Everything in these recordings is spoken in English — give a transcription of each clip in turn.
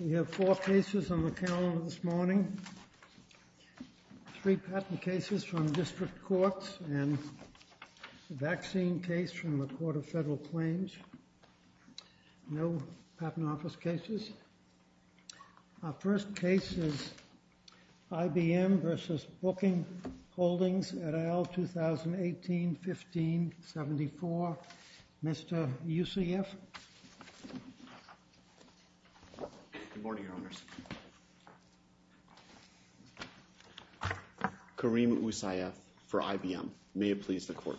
We have four cases on the calendar this morning, three patent cases from District Courts and a vaccine case from the Court of Federal Claims, no patent office cases. Our first case is IBM v. Booking Holdings et al., 2018-15-74. Mr. Usayef? Good morning, Your Honors. Kareem Usayef for IBM. May it please the Court.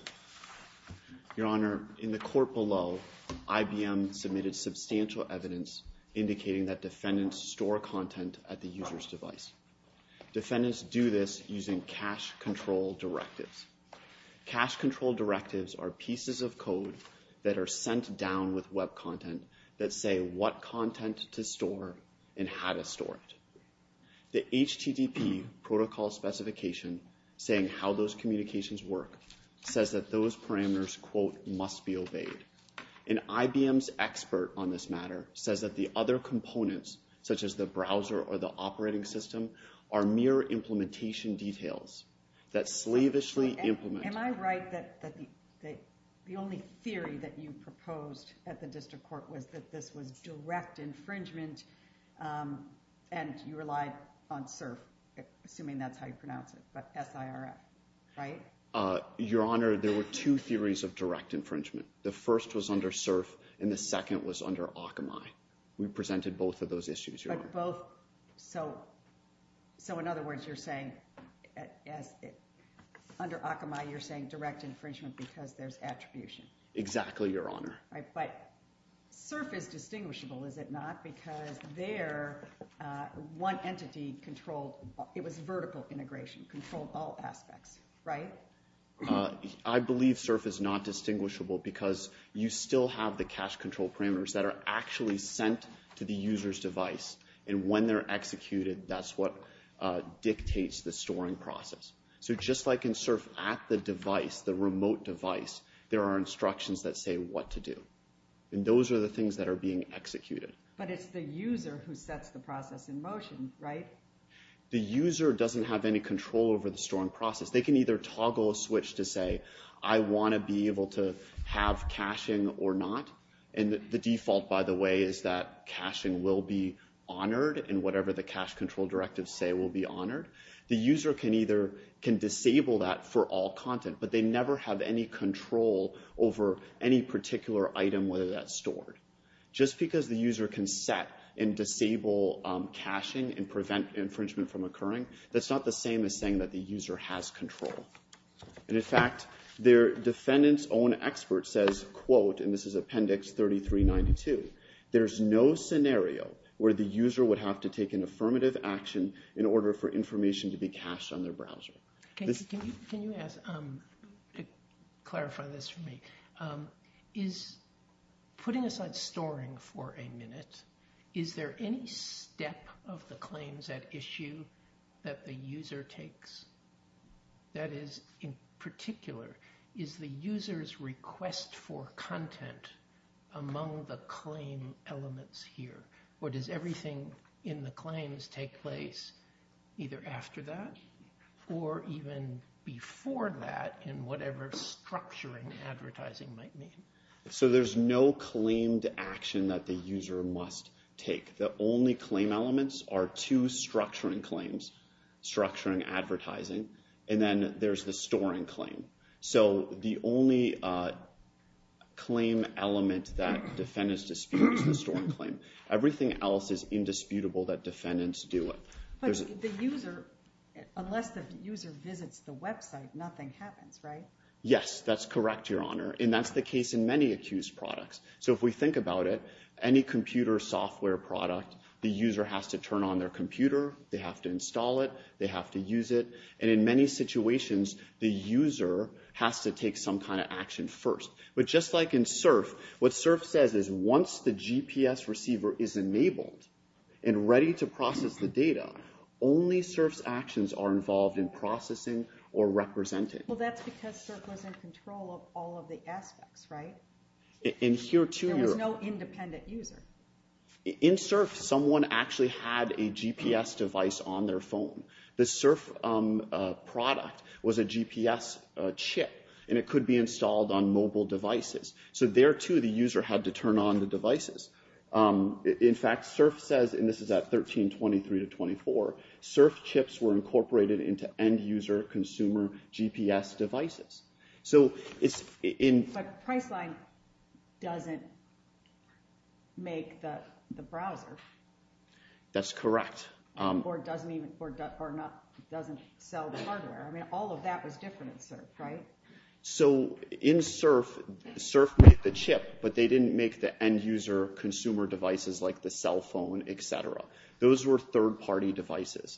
Your Honor, in the Court below, IBM submitted substantial evidence indicating that defendants store content at the user's device. Defendants do this using cache control directives. Cache control directives are pieces of code that are sent down with web content that say what content to store and how to store it. The HTTP protocol specification saying how those requests be obeyed. And IBM's expert on this matter says that the other components, such as the browser or the operating system, are mere implementation details that slavishly implement. Am I right that the only theory that you proposed at the District Court was that this was direct infringement and you relied on SIRF, assuming that's how you pronounce it, but S-I-R-F, right? Your Honor, there were two theories of direct infringement. The first was under CERF and the second was under Akamai. We presented both of those issues, Your Honor. But both, so in other words, you're saying under Akamai, you're saying direct infringement because there's attribution. Exactly, Your Honor. But CERF is distinguishable, is it not? Because there, one entity controlled, it was vertical integration, controlled all aspects, right? I believe CERF is not distinguishable because you still have the cache control parameters that are actually sent to the user's device. And when they're executed, that's what dictates the storing process. So just like in CERF at the device, the remote device, there are things that are being executed. But it's the user who sets the process in motion, right? The user doesn't have any control over the storing process. They can either toggle a switch to say, I want to be able to have caching or not. And the default, by the way, is that caching will be honored and whatever the cache control directives say will be honored. The user can either, can disable that for all content, but they never have any control over any particular item whether that's stored. Just because the user can set and disable caching and prevent infringement from occurring, that's not the same as saying that the user has control. And in fact, their defendant's own expert says, quote, and this is Appendix 3392, there's no scenario where the user would have to take an affirmative action in order for information to be cached on their browser. Can you ask, clarify this for me. Is, putting aside storing for a minute, is there any step of the claims at issue that the user takes? That is, in particular, is the user's request for content among the claim elements here? Or does everything in the claims take place either after that or even before that in whatever structuring advertising might mean? So there's no claimed action that the user must take. The only claim elements are two structuring claims, structuring advertising, and then there's the storing claim. So the only claim element that defendants dispute is the storing claim. Everything else is indisputable that defendants do it. But the user, unless the user visits the website, nothing happens, right? Yes, that's correct, Your Honor. And that's the case in many accused products. So if we think about it, any computer software product, the user has to turn on their computer, they have to install it, they have to use it. And in many situations, the user has to take some kind of action first. But just like in SIRF, what SIRF says is once the GPS receiver is ready to process the data, only SIRF's actions are involved in processing or representing. Well, that's because SIRF was in control of all of the aspects, right? There was no independent user. In SIRF, someone actually had a GPS device on their phone. The SIRF product was a GPS chip, and it could be installed on mobile devices. So there, too, the user had to turn on the devices. In fact, SIRF says, and this is at 1323 to 1324, SIRF chips were incorporated into end-user consumer GPS devices. So it's in... But Priceline doesn't make the browser. That's correct. Or doesn't even... or doesn't sell the hardware. I mean, all of that was different in SIRF, right? So in SIRF, SIRF made the chip, but they didn't make the end-user consumer devices like the cell phone, et cetera. Those were third-party devices.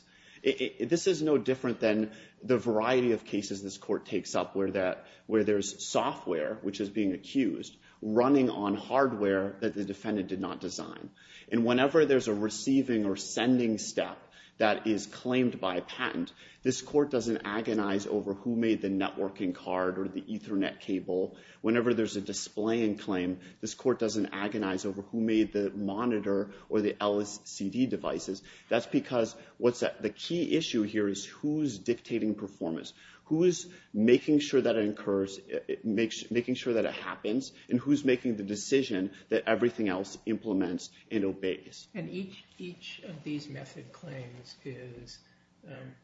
This is no different than the variety of cases this court takes up where there's software, which is being accused, running on hardware that the defendant did not design. And whenever there's a receiving or sending step that is claimed by a patent, this court doesn't agonize over who made the networking card or the Ethernet cable. Whenever there's a displaying claim, this court doesn't agonize over who made the monitor or the LCD devices. That's because what's... the key issue here is who's dictating performance? Who is making sure that it occurs, making sure that it happens? And who's making the decision that everything else implements and obeys? And each of these method claims is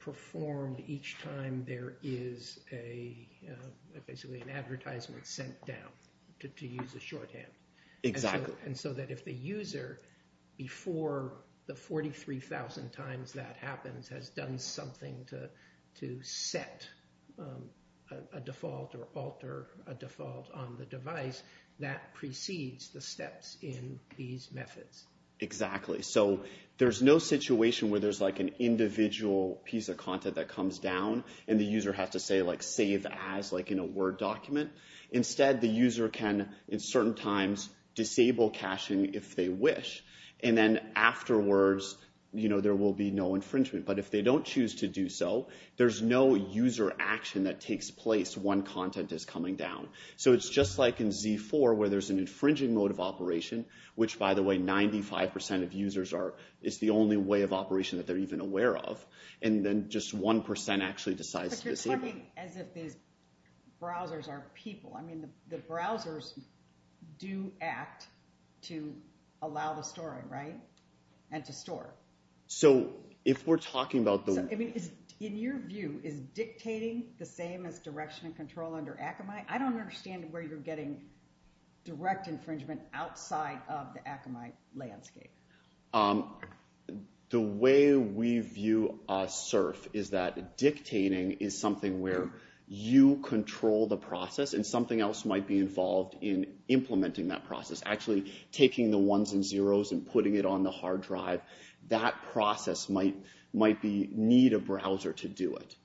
performed each time there is a... basically an advertisement sent down, to use a shorthand. Exactly. And so that if the user, before the 43,000 times that happens, has done something to set a default or alter a default on the device, that precedes the steps in these methods. Exactly. So there's no situation where there's like an individual piece of content that comes down and the user has to say, like, save as, like in a Word document. Instead, the user can, in certain times, disable caching if they wish. And then afterwards, you know, there will be no infringement. But if they don't choose to do so, there's no user action that takes place when content is coming down. So it's just like in Z4, where there's an infringing mode of operation, which by the way, 95% of users are... it's the only way of operation that they're even aware of. And then just 1% actually decides to disable. But you're talking as if these browsers are people. I mean, the browsers do act to allow the storing, right? And to store. So if we're talking about the... So, I mean, in your view, is dictating the same as direction and control under Akamai? I don't understand where you're getting direct infringement outside of the Akamai landscape. The way we view a surf is that dictating is something where you control the process and something else might be involved in implementing that process. Actually, taking the ones and zeros and putting it on the hard drive, that process might be... need a browser to do it.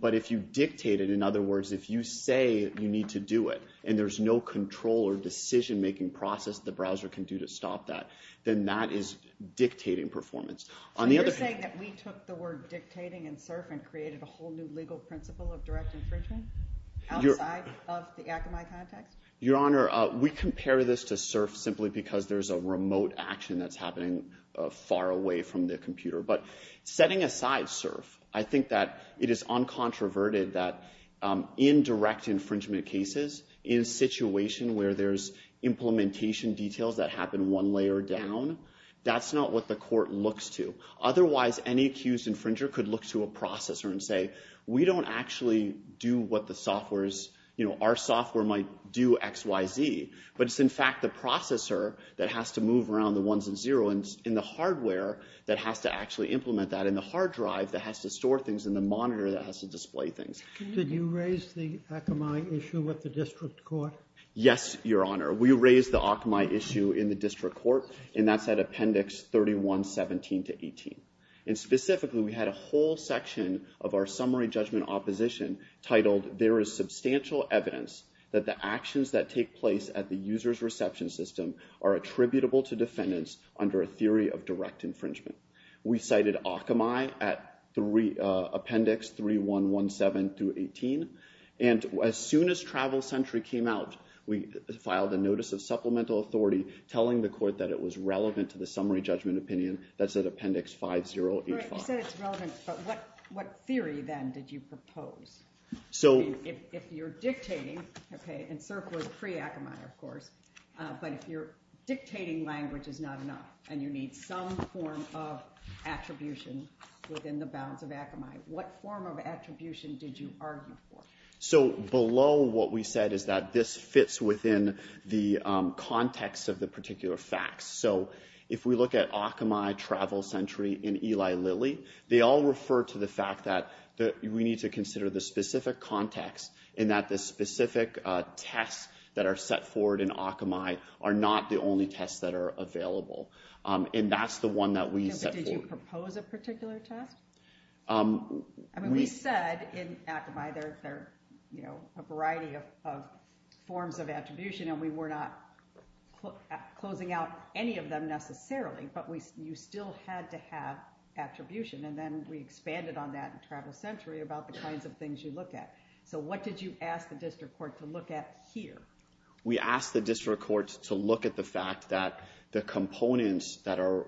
But if you dictate it, in other words, if you say you need to do it and there's no control or decision-making process the browser can do to stop that, then that is dictating performance. On the other hand... So you're saying that we took the word dictating in surf and created a whole new legal principle of direct infringement outside of the Akamai context? Your Honor, we compare this to surf simply because there's a remote action that's happening far away from the computer. But setting aside surf, I think that it is uncontroverted that in direct infringement cases, in a situation where there's implementation details that happen one layer down, that's not what the court looks to. Otherwise, any accused infringer could look to a processor and say, we don't actually do what the software is... Our software might do X, Y, Z. But it's in fact the processor that has to move around the ones and zeros and the hardware that has to actually implement that and the hard drive that has to store things and the monitor that has to display things. Did you raise the Akamai issue with the district court? Yes, Your Honor. We raised the Akamai issue in the district court and that's at Appendix 31-17-18. And specifically, we had a whole section of our summary judgment opposition titled, there is substantial evidence that the actions that take place at the user's reception system are attributable to defendants under a theory of direct infringement. We cited Akamai at Appendix 3-1-1-7-18. And as soon as Travel Sentry came out, we filed a notice of supplemental authority telling the court that it was relevant to the summary judgment opinion that's at Appendix 5-0-8-5. You said it's relevant, but what theory then did you propose? If you're dictating, and CERC was pre-Akamai, of course, but if you're dictating language is not enough and you need some form of attribution within the bounds of Akamai, what form of attribution did you argue for? So below what we said is that this fits within the context of the particular facts. So if we look at Akamai, Travel Sentry, and Eli Lilly, they all refer to the fact that we need to consider the specific context and that the specific tests that are set forward in Akamai are not the only tests that are available. And that's the one that we set forward. Did you propose a particular test? I mean, we said in Akamai there are a variety of forms of attribution, and we were not closing out any of them necessarily, but you still had to have attribution. And then we expanded on that in Travel Sentry about the kinds of things you look at. So what did you ask the district court to look at here? We asked the district court to look at the fact that the components that are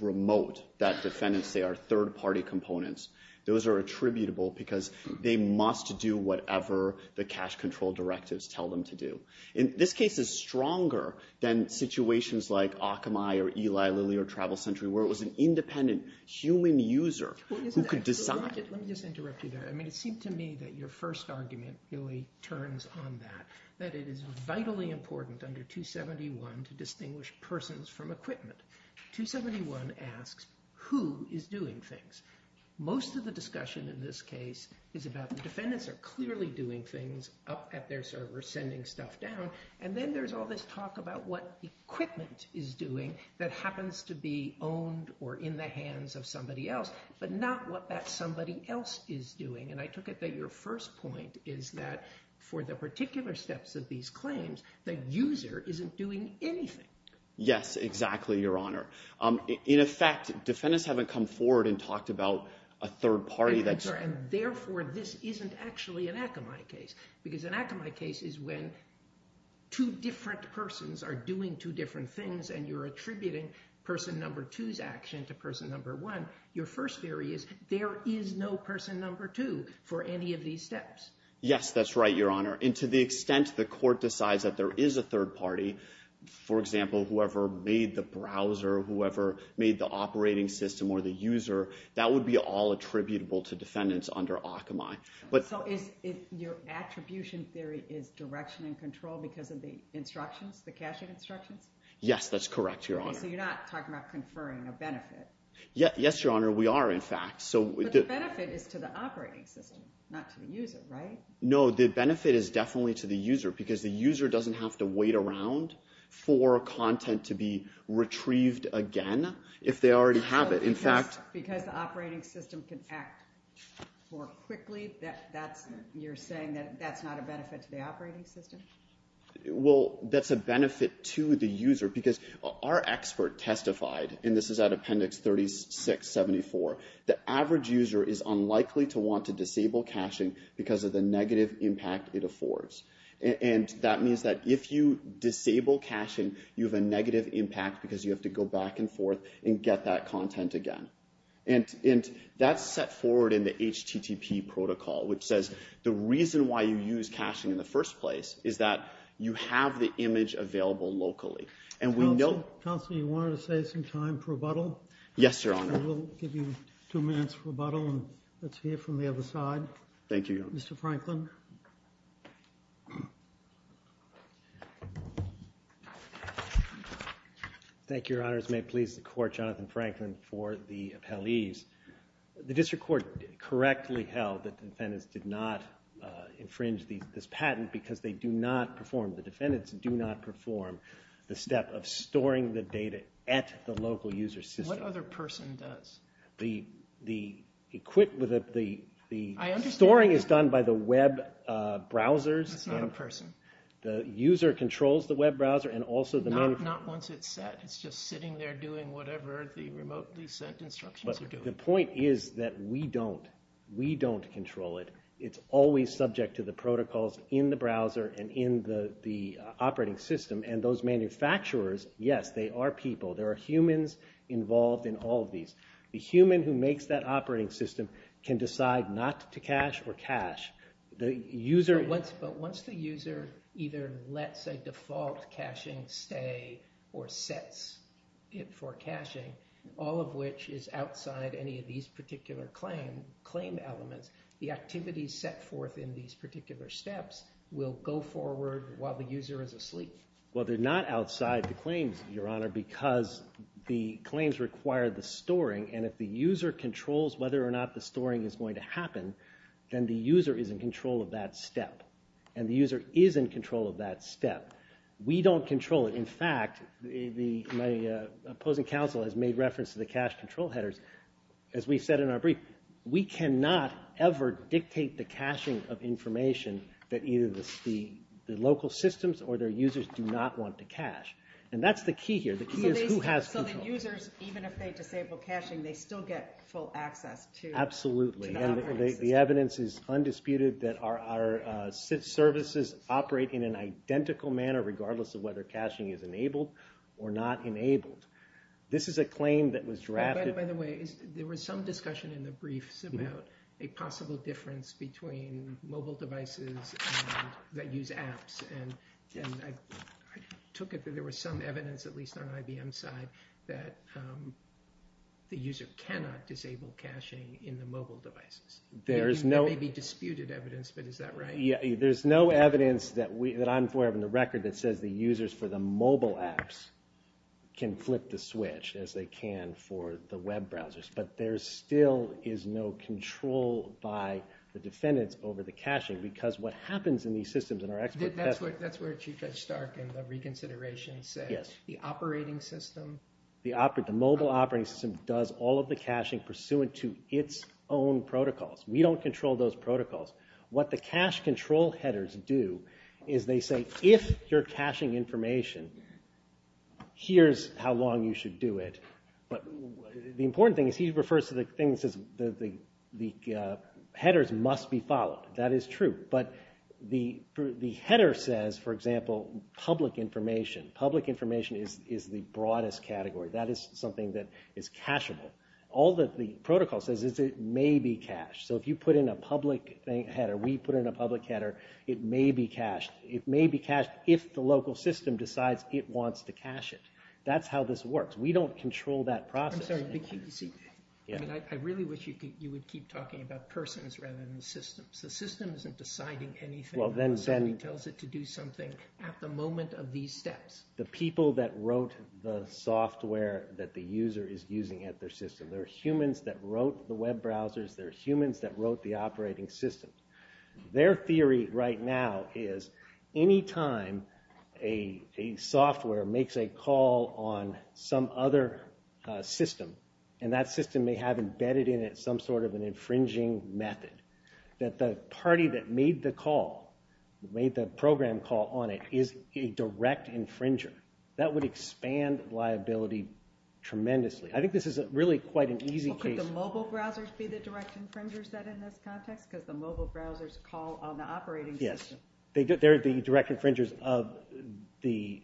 remote, that defendants say are third-party components, those are attributable because they must do whatever the cash control directives tell them to do. And this case is stronger than situations like Akamai, or Eli Lilly, or Travel Sentry, where it was an independent human user who could decide. Let me just interrupt you there. I mean, it seemed to me that your first argument really turns on that, that it is vitally important under 271 to distinguish persons from equipment. 271 asks who is doing things. Most of the discussion in this case is about the defendants are clearly doing things up at their server, sending stuff down. And then there's all this talk about what equipment is doing that happens to be owned or in the hands of somebody else, but not what that somebody else is doing. And I took it that your first point is that for the particular steps of these claims, the user isn't doing anything. Yes, exactly, Your Honor. In effect, defendants haven't come forward and talked about a third party. This is actually an Akamai case, because an Akamai case is when two different persons are doing two different things, and you're attributing person number two's action to person number one. Your first theory is there is no person number two for any of these steps. Yes, that's right, Your Honor. And to the extent the court decides that there is a third party, for example, whoever made the browser, whoever made the operating system or the user, that would be all attributable to defendants under Akamai. So your attribution theory is direction and control because of the instructions, the caching instructions? Yes, that's correct, Your Honor. So you're not talking about conferring a benefit? Yes, Your Honor, we are, in fact. But the benefit is to the operating system, not to the user, right? No, the benefit is definitely to the user, because the user doesn't have to wait around for content to be retrieved again if they already have it. Because the operating system can act more quickly? You're saying that that's not a benefit to the operating system? Well, that's a benefit to the user, because our expert testified, and this is at Appendix 3674, the average user is unlikely to want to disable caching because of the negative impact it affords. And that means that if you disable caching, you have a negative impact because you have to go back and forth and get that content again. And that's set forward in the HTTP protocol, which says the reason why you use caching in the first place is that you have the image available locally. Counselor, you wanted to say some time for rebuttal? Yes, Your Honor. We'll give you two minutes for rebuttal, and let's hear from the other side. Thank you, Your Honor. Mr. Franklin. Thank you, Your Honors. May it please the Court, Jonathan Franklin for the appellees. The District Court correctly held that the defendants did not infringe this patent because they do not perform, the defendants do not perform the step of storing the data at the local user system. What other person does? The equipment, the storing is done by the web, browsers. That's not a person. The user controls the web browser and also the manufacturer. Not once it's set. It's just sitting there doing whatever the remotely sent instructions are doing. The point is that we don't. We don't control it. It's always subject to the protocols in the browser and in the operating system. And those manufacturers, yes, they are people. There are humans involved in all of these. The human who makes that operating system can decide not to cache or cache. But once the user either lets a default caching stay or sets it for caching, all of which is outside any of these particular claim elements, the activities set forth in these particular steps will go forward while the user is asleep. Well, they're not outside the claims, Your Honor, because the claims require the storing. And if the user controls whether or not the storing is going to happen, then the user is in control of that step. And the user is in control of that step. We don't control it. In fact, my opposing counsel has made reference to the cache control headers. As we've said in our brief, we cannot ever dictate the caching of information that either the local systems or their users do not want to cache. And that's the key here. The key is who has control. they still get full access to the operating system. Absolutely. The evidence is undisputed that our services operate in an identical manner regardless of whether caching is enabled or not enabled. This is a claim that was drafted... By the way, there was some discussion in the briefs about a possible difference between mobile devices that use apps. And I took it that there was some evidence, at least on IBM's side, that the user cannot disable caching in the mobile devices. There may be disputed evidence, but is that right? There's no evidence that I'm aware of in the record that says the users for the mobile apps can flip the switch as they can for the web browsers. But there still is no control by the defendants over the caching because what happens in these systems... That's where Chief Judge Stark in the reconsideration said the mobile operating system does all of the caching pursuant to its own protocols. We don't control those protocols. What the cache control headers do is they say if you're caching information, here's how long you should do it. But the important thing is he refers to the thing that says the headers must be followed. That is true. But the header says, for example, public information. Public information is the broadest category. That is something that is cacheable. All that the protocol says is it may be cached. So if you put in a public header, we put in a public header, it may be cached. It may be cached if the local system decides it wants to cache it. That's how this works. We don't control that process. I really wish you would keep talking about persons rather than systems. The system isn't deciding anything. Somebody tells it to do something at the moment of these steps. The people that wrote the software that the user is using at their system. There are humans that wrote the web browsers. There are humans that wrote the operating system. Their theory right now is anytime a software makes a call on some other system, and that system may have embedded in it some sort of an infringing method, that the party that made the call, made the program call on it, is a direct infringer. That would expand liability tremendously. I think this is really quite an easy case. Could the mobile browsers be the direct infringers in this context? Because the mobile browsers call on the operating system. Yes, they are the direct infringers. The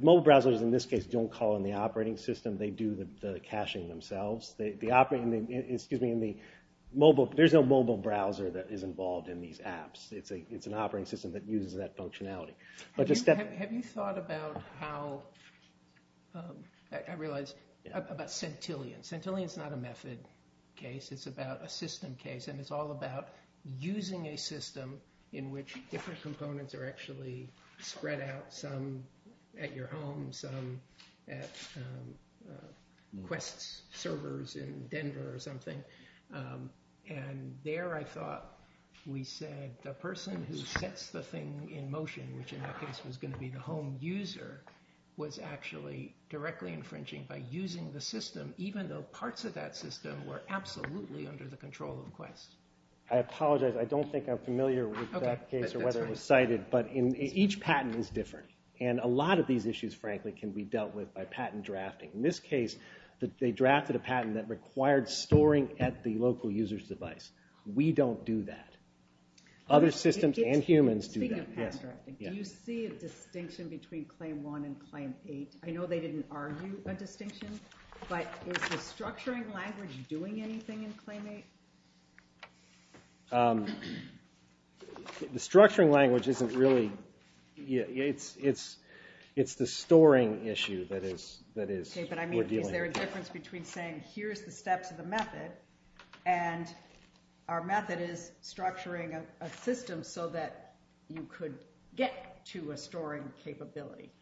mobile browsers in this case don't call on the operating system. They do the caching themselves. There is no mobile browser that is involved in these apps. It's an operating system that uses that functionality. Have you thought about how, I realize, about Centillion. Centillion is not a method case. It's about a system case. It's all about using a system in which different components are actually spread out. Some at your home, some at Quest servers in Denver or something. And there I thought, we said the person who sets the thing in motion, which in that case was going to be the home user, was actually directly infringing by using the system, even though parts of that system were absolutely under the control of Quest. I apologize, I don't think I'm familiar with that case, but each patent is different. And a lot of these issues, frankly, can be dealt with by patent drafting. In this case, they drafted a patent that required storing at the local user's device. We don't do that. Other systems and humans do that. Do you see a distinction between Claim 1 and Claim 8? I know they didn't argue a distinction, but is the structuring language doing anything in Claim 8? The structuring language isn't really... It's the storing issue that we're dealing with. Is there a difference between saying, here's the steps of the method, and our method is structuring a system so that you could get to a storing capability?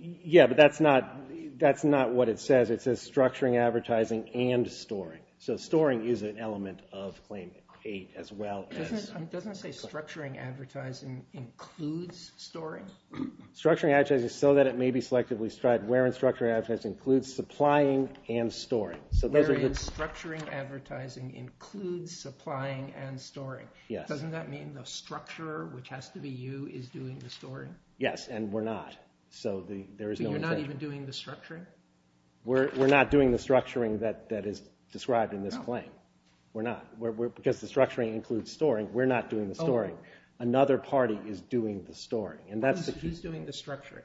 Yeah, but that's not what it says. It says structuring, advertising, and storing. So storing is an element of Claim 8 as well. Doesn't it say structuring advertising includes storing? Structuring advertising so that it may be selectively strived wherein structuring advertising includes supplying and storing. Wherein structuring advertising includes supplying and storing. Doesn't that mean the structurer, which has to be you, is doing the storing? Yes, and we're not. So you're not even doing the structuring? We're not doing the structuring that is described in this claim. We're not. Because the structuring includes storing, we're not doing the storing. Another party is doing the storing. He's doing the structuring.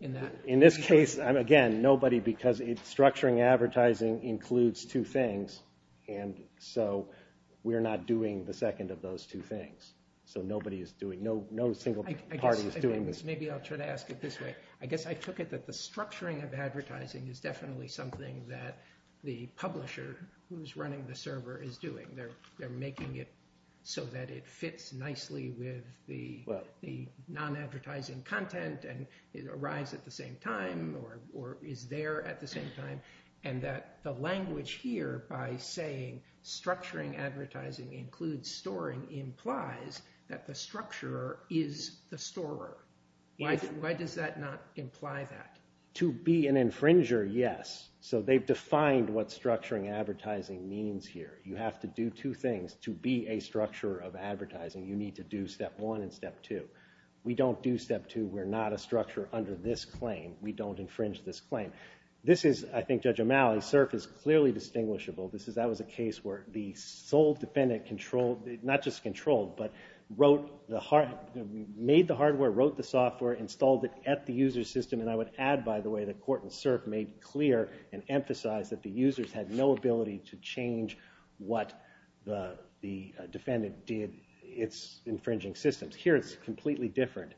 In this case, again, nobody, because structuring advertising includes two things, and so we're not doing the second of those two things. So nobody is doing... I guess I took it that the structuring of advertising is definitely something that the publisher who's running the server is doing. They're making it so that it fits nicely with the non-advertising content and it arrives at the same time or is there at the same time, and that the language here by saying structuring advertising includes storing implies that the structurer is the storer. Why does that not imply that? To be an infringer, yes. So they've defined what structuring advertising means here. You have to do two things to be a structurer of advertising. You need to do step one and step two. We don't do step two. We're not a structurer under this claim. We don't infringe this claim. This is, I think, Judge O'Malley, CERF is clearly distinguishable. That was a case where the sole defendant controlled, not just controlled, but made the hardware, wrote the software, installed it at the user system, and I would add, by the way, that court and CERF made clear and emphasized that the users had no ability to change what the defendant did, its infringing systems. Here it's completely different.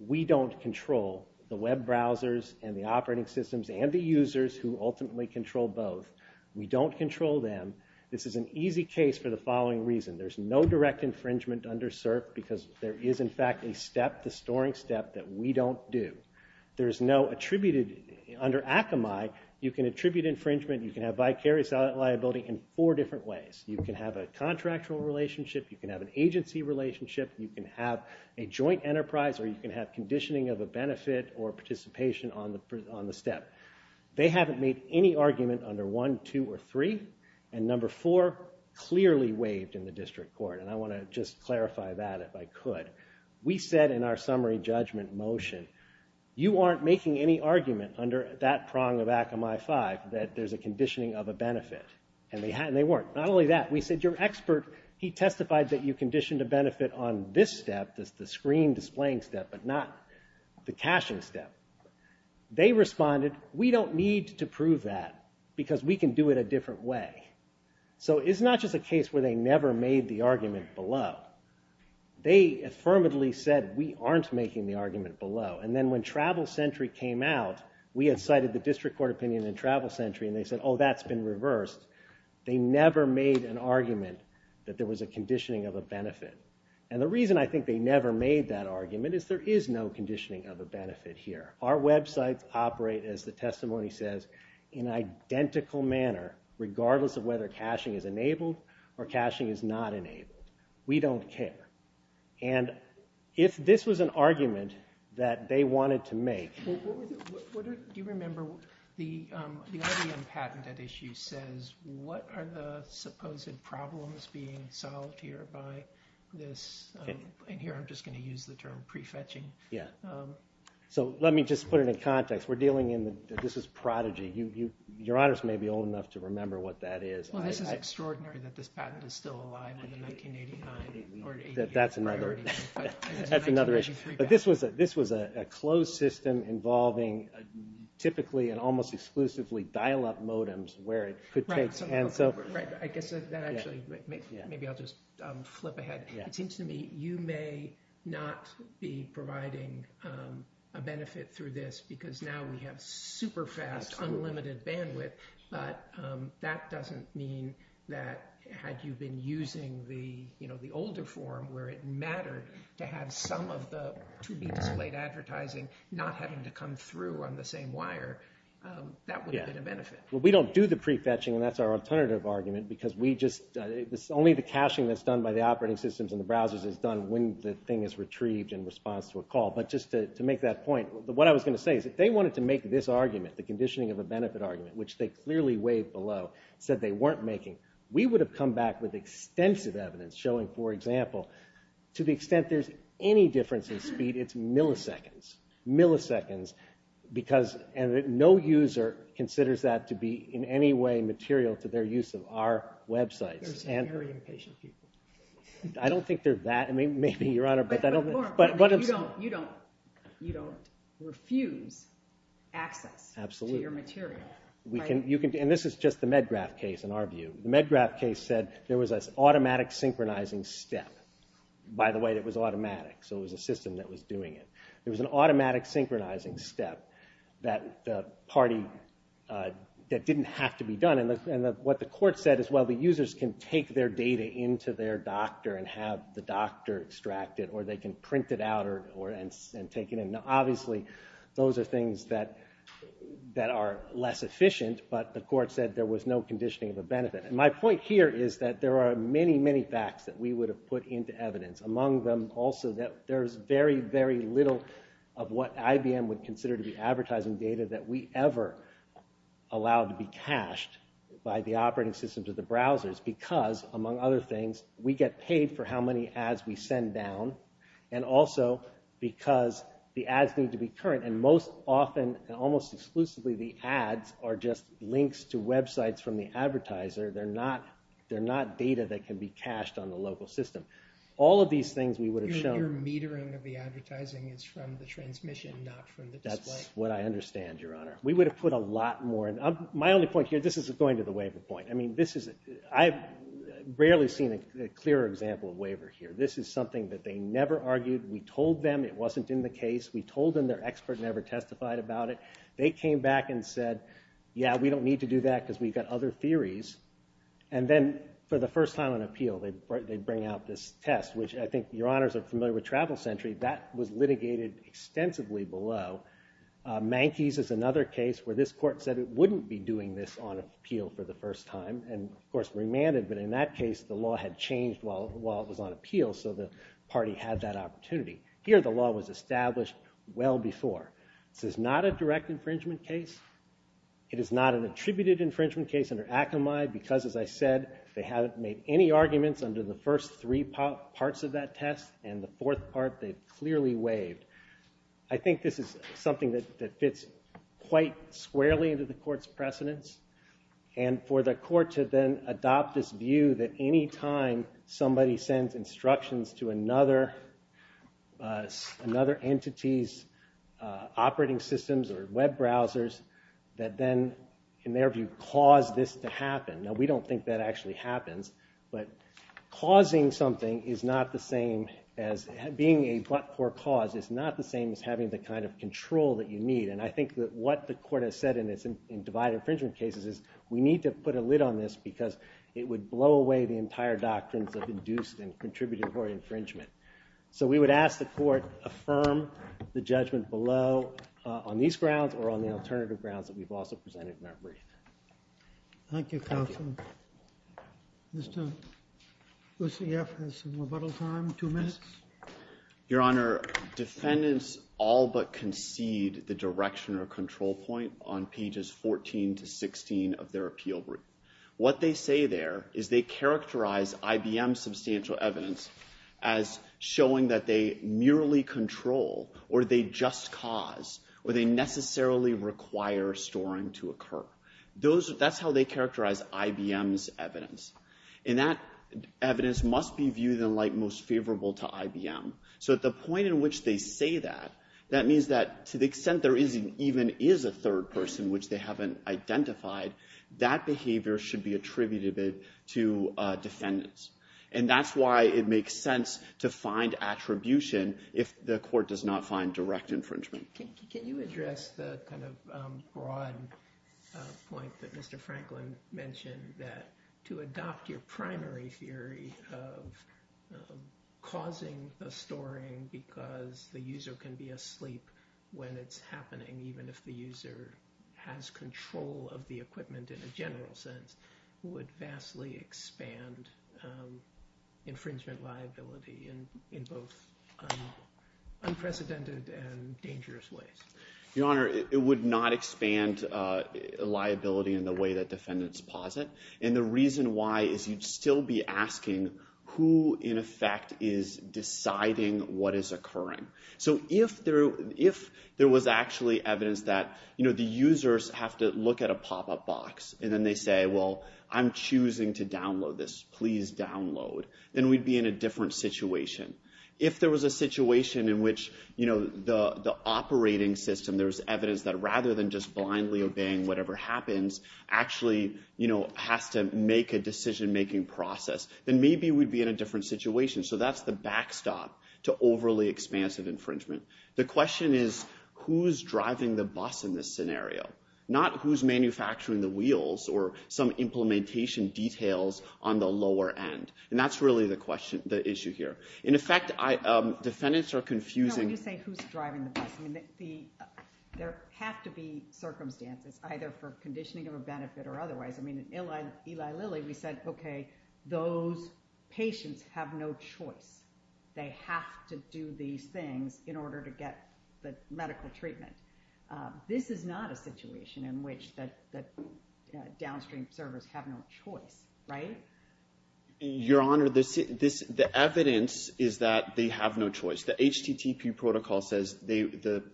We don't control the web browsers and the operating systems and the users who ultimately control both. We don't control them. This is an easy case for the following reason. There's no direct infringement under CERF because there is, in fact, a step, the storing step, that we don't do. There's no attributed... Under ACAMI, you can attribute infringement, you can have vicarious liability in four different ways. You can have a contractual relationship, you can have an agency relationship, you can have a joint enterprise, or you can have conditioning of a benefit or participation on the step. They haven't made any argument under one, two, or three, and number four clearly waived in the district court, and I want to just clarify that if I could. We said in our summary judgment motion, you aren't making any argument under that prong of ACAMI 5 that there's a conditioning of a benefit. And they weren't. Not only that, we said your expert, he testified that you conditioned a benefit on this step, the screen displaying step, but not the caching step. They responded, we don't need to prove that because we can do it a different way. So it's not just a case where they never made the argument below. They affirmatively said, we aren't making the argument below. And then when Travel Sentry came out, we had cited the district court opinion in Travel Sentry, and they said, oh, that's been reversed. They never made an argument that there was a conditioning of a benefit. And the reason I think they never made that argument is there is no conditioning of a benefit here. Our websites operate, as the testimony says, in identical manner, regardless of whether caching is enabled or caching is not enabled. We don't care. And if this was an argument that they wanted to make... Do you remember the IBM patented issue says what are the supposed problems being solved here by this, and here I'm just going to use the term prefetching. So let me just put it in context. We're dealing in, this is old enough to remember what that is. Well, this is extraordinary that this patent is still alive in the 1989. That's another issue. But this was a closed system involving typically and almost exclusively dial-up modems where it could take... Right, I guess that actually maybe I'll just flip ahead. It seems to me you may not be providing a benefit through this because now we have super fast unlimited bandwidth, but that doesn't mean that had you been using the older form where it mattered to have some of the to-be-displayed advertising not having to come through on the same wire that would have been a benefit. We don't do the prefetching, and that's our alternative argument because we just... Only the caching that's done by the operating systems and the browsers is done when the thing is retrieved in response to a call. But just to make that point, what I was going to say is if they wanted to make this argument, the conditioning of a benefit argument, which they clearly below, said they weren't making, we would have come back with extensive evidence showing, for example, to the extent there's any difference in speed, it's milliseconds. Milliseconds. No user considers that to be in any way material to their use of our websites. Very impatient people. I don't think they're that... You don't refuse access to your material. And this is just the MedGraph case, in our view. The MedGraph case said there was an automatic synchronizing step. By the way, it was automatic, so it was a system that was doing it. There was an automatic synchronizing step that the party... that didn't have to be done, and what the court said is, well, the users can take their data into their doctor and have the doctor extract it, or they can print it out and take it in. Obviously, those are things that are less efficient, but the court said there was no conditioning of a benefit. And my point here is that there are many, many facts that we would have put into evidence. Among them, also that there's very, very little of what IBM would consider to be advertising data that we ever allowed to be cached by the operating systems of the browsers, because, among other things, we get paid for how many ads we sell, because the ads need to be current, and most often, almost exclusively, the ads are just links to websites from the advertiser. They're not data that can be cached on the local system. All of these things we would have shown... Your metering of the advertising is from the transmission, not from the display. That's what I understand, Your Honor. We would have put a lot more... My only point here, this is going to the waiver point. I mean, this is... I've rarely seen a clearer example of waiver here. This is something that they never argued. We told them it wasn't in the case. We told them their expert never testified about it. They came back and said, yeah, we don't need to do that, because we've got other theories, and then for the first time on appeal, they bring out this test, which I think, Your Honors, are familiar with Travel Sentry. That was litigated extensively below. Manky's is another case where this court said it wouldn't be doing this on appeal for the first time, and of course, remanded, but in that case, the law had changed while it was on appeal, so the party had that opportunity. Here, the law was established well before. This is not a direct infringement case. It is not an attributed infringement case under Akamai, because, as I said, they haven't made any arguments under the first three parts of that test, and the fourth part, they've clearly waived. I think this is something that fits quite squarely into the court's precedence, and for the court to then adopt this view that any time somebody sends instructions to another entity's operating systems or web browsers, that then in their view, cause this to happen. Now, we don't think that actually happens, but causing something is not the same as being a but-for cause is not the same as having the kind of control that you need, and I think that what the court has said in divided infringement cases is we need to put a lid on this because it would blow away the entire doctrines of induced and contributory infringement. So we would ask the court affirm the judgment below on these grounds or on the alternative grounds that we've also presented in our brief. Thank you, counsel. Mr. Lucieff has some rebuttal time, two minutes. Your Honor, defendants all but concede the direction or control point on their appeal group. What they say there is they characterize IBM's substantial evidence as showing that they merely control or they just cause or they necessarily require storing to occur. That's how they characterize IBM's evidence. And that evidence must be viewed in light most favorable to IBM. So at the point in which they say that, that means that to the extent there even is a third person in which they haven't identified, that behavior should be attributed to defendants. And that's why it makes sense to find attribution if the court does not find direct infringement. Can you address the kind of broad point that Mr. Franklin mentioned that to adopt your primary theory of causing the storing because the user can be asleep when it's has control of the equipment in a general sense would vastly expand infringement liability in both unprecedented and dangerous ways? Your Honor, it would not expand liability in the way that defendants posit. And the reason why is you'd still be asking who in effect is deciding what is occurring. So if there was actually evidence that the users have to look at a pop-up box, and then they say, well, I'm choosing to download this. Please download. Then we'd be in a different situation. If there was a situation in which the operating system, there's evidence that rather than just blindly obeying whatever happens, actually has to make a decision-making process, then maybe we'd be in a different situation. So that's the backstop to overly expansive infringement. The question is, who's driving the bus in this scenario? Not who's manufacturing the wheels or some implementation details on the lower end. And that's really the issue here. In effect, defendants are confusing... When you say who's driving the bus, there have to be circumstances, either for conditioning of a benefit or otherwise. In Eli Lilly, we said, okay, those patients have no choice. They have to do these things in order to get the medical treatment. This is not a situation in which the downstream servers have no choice, right? Your Honor, the evidence is that they have no choice. The HTTP protocol says the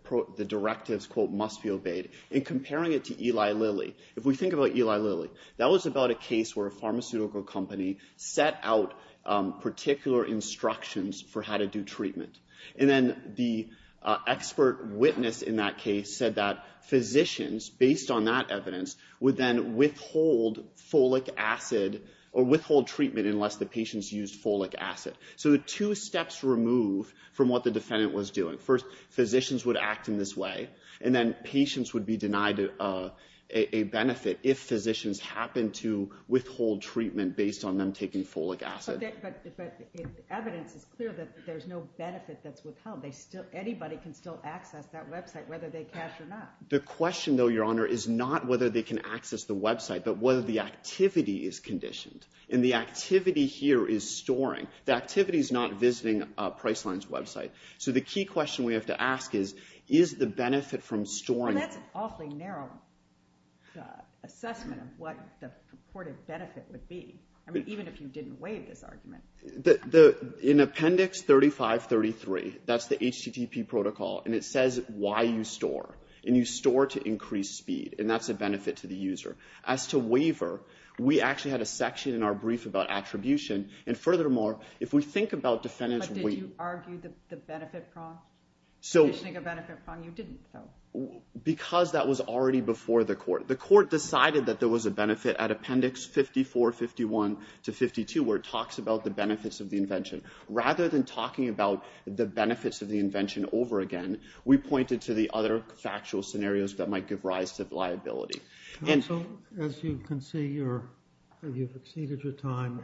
directives, quote, must be obeyed. In comparing it to Eli Lilly, if we think about Eli Lilly, that was about a case where a pharmaceutical company set out particular instructions for how to do treatment. And then the expert witness in that case said that physicians, based on that evidence, would then withhold folic acid or withhold treatment unless the patients used folic acid. So the two steps removed from what the defendant was doing. First, physicians would act in this way, and then patients would be denied a benefit if physicians happened to withhold treatment based on them taking folic acid. Evidence is clear that there's no benefit that's withheld. Anybody can still access that website whether they cash or not. The question, though, Your Honor, is not whether they can access the website but whether the activity is conditioned. And the activity here is storing. The activity is not visiting Priceline's website. So the key question we have to ask is is the benefit from storing... That's an awfully narrow assessment of what the benefit is if you didn't waive this argument. In Appendix 3533, that's the HTTP protocol, and it says why you store. And you store to increase speed, and that's a benefit to the user. As to waiver, we actually had a section in our brief about attribution, and furthermore, if we think about defendants' weight... But did you argue the benefit from conditioning a benefit from? You didn't, though. Because that was already before the court. The court decided that there was a benefit at Appendix 5451-52 where it talks about the benefits of the invention. Rather than talking about the benefits of the invention over again, we pointed to the other factual scenarios that might give rise to liability. Counsel, as you can see, you've exceeded your time.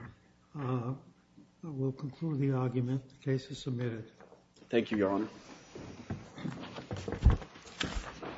We'll conclude the argument. The case is submitted. Thank you, Your Honor.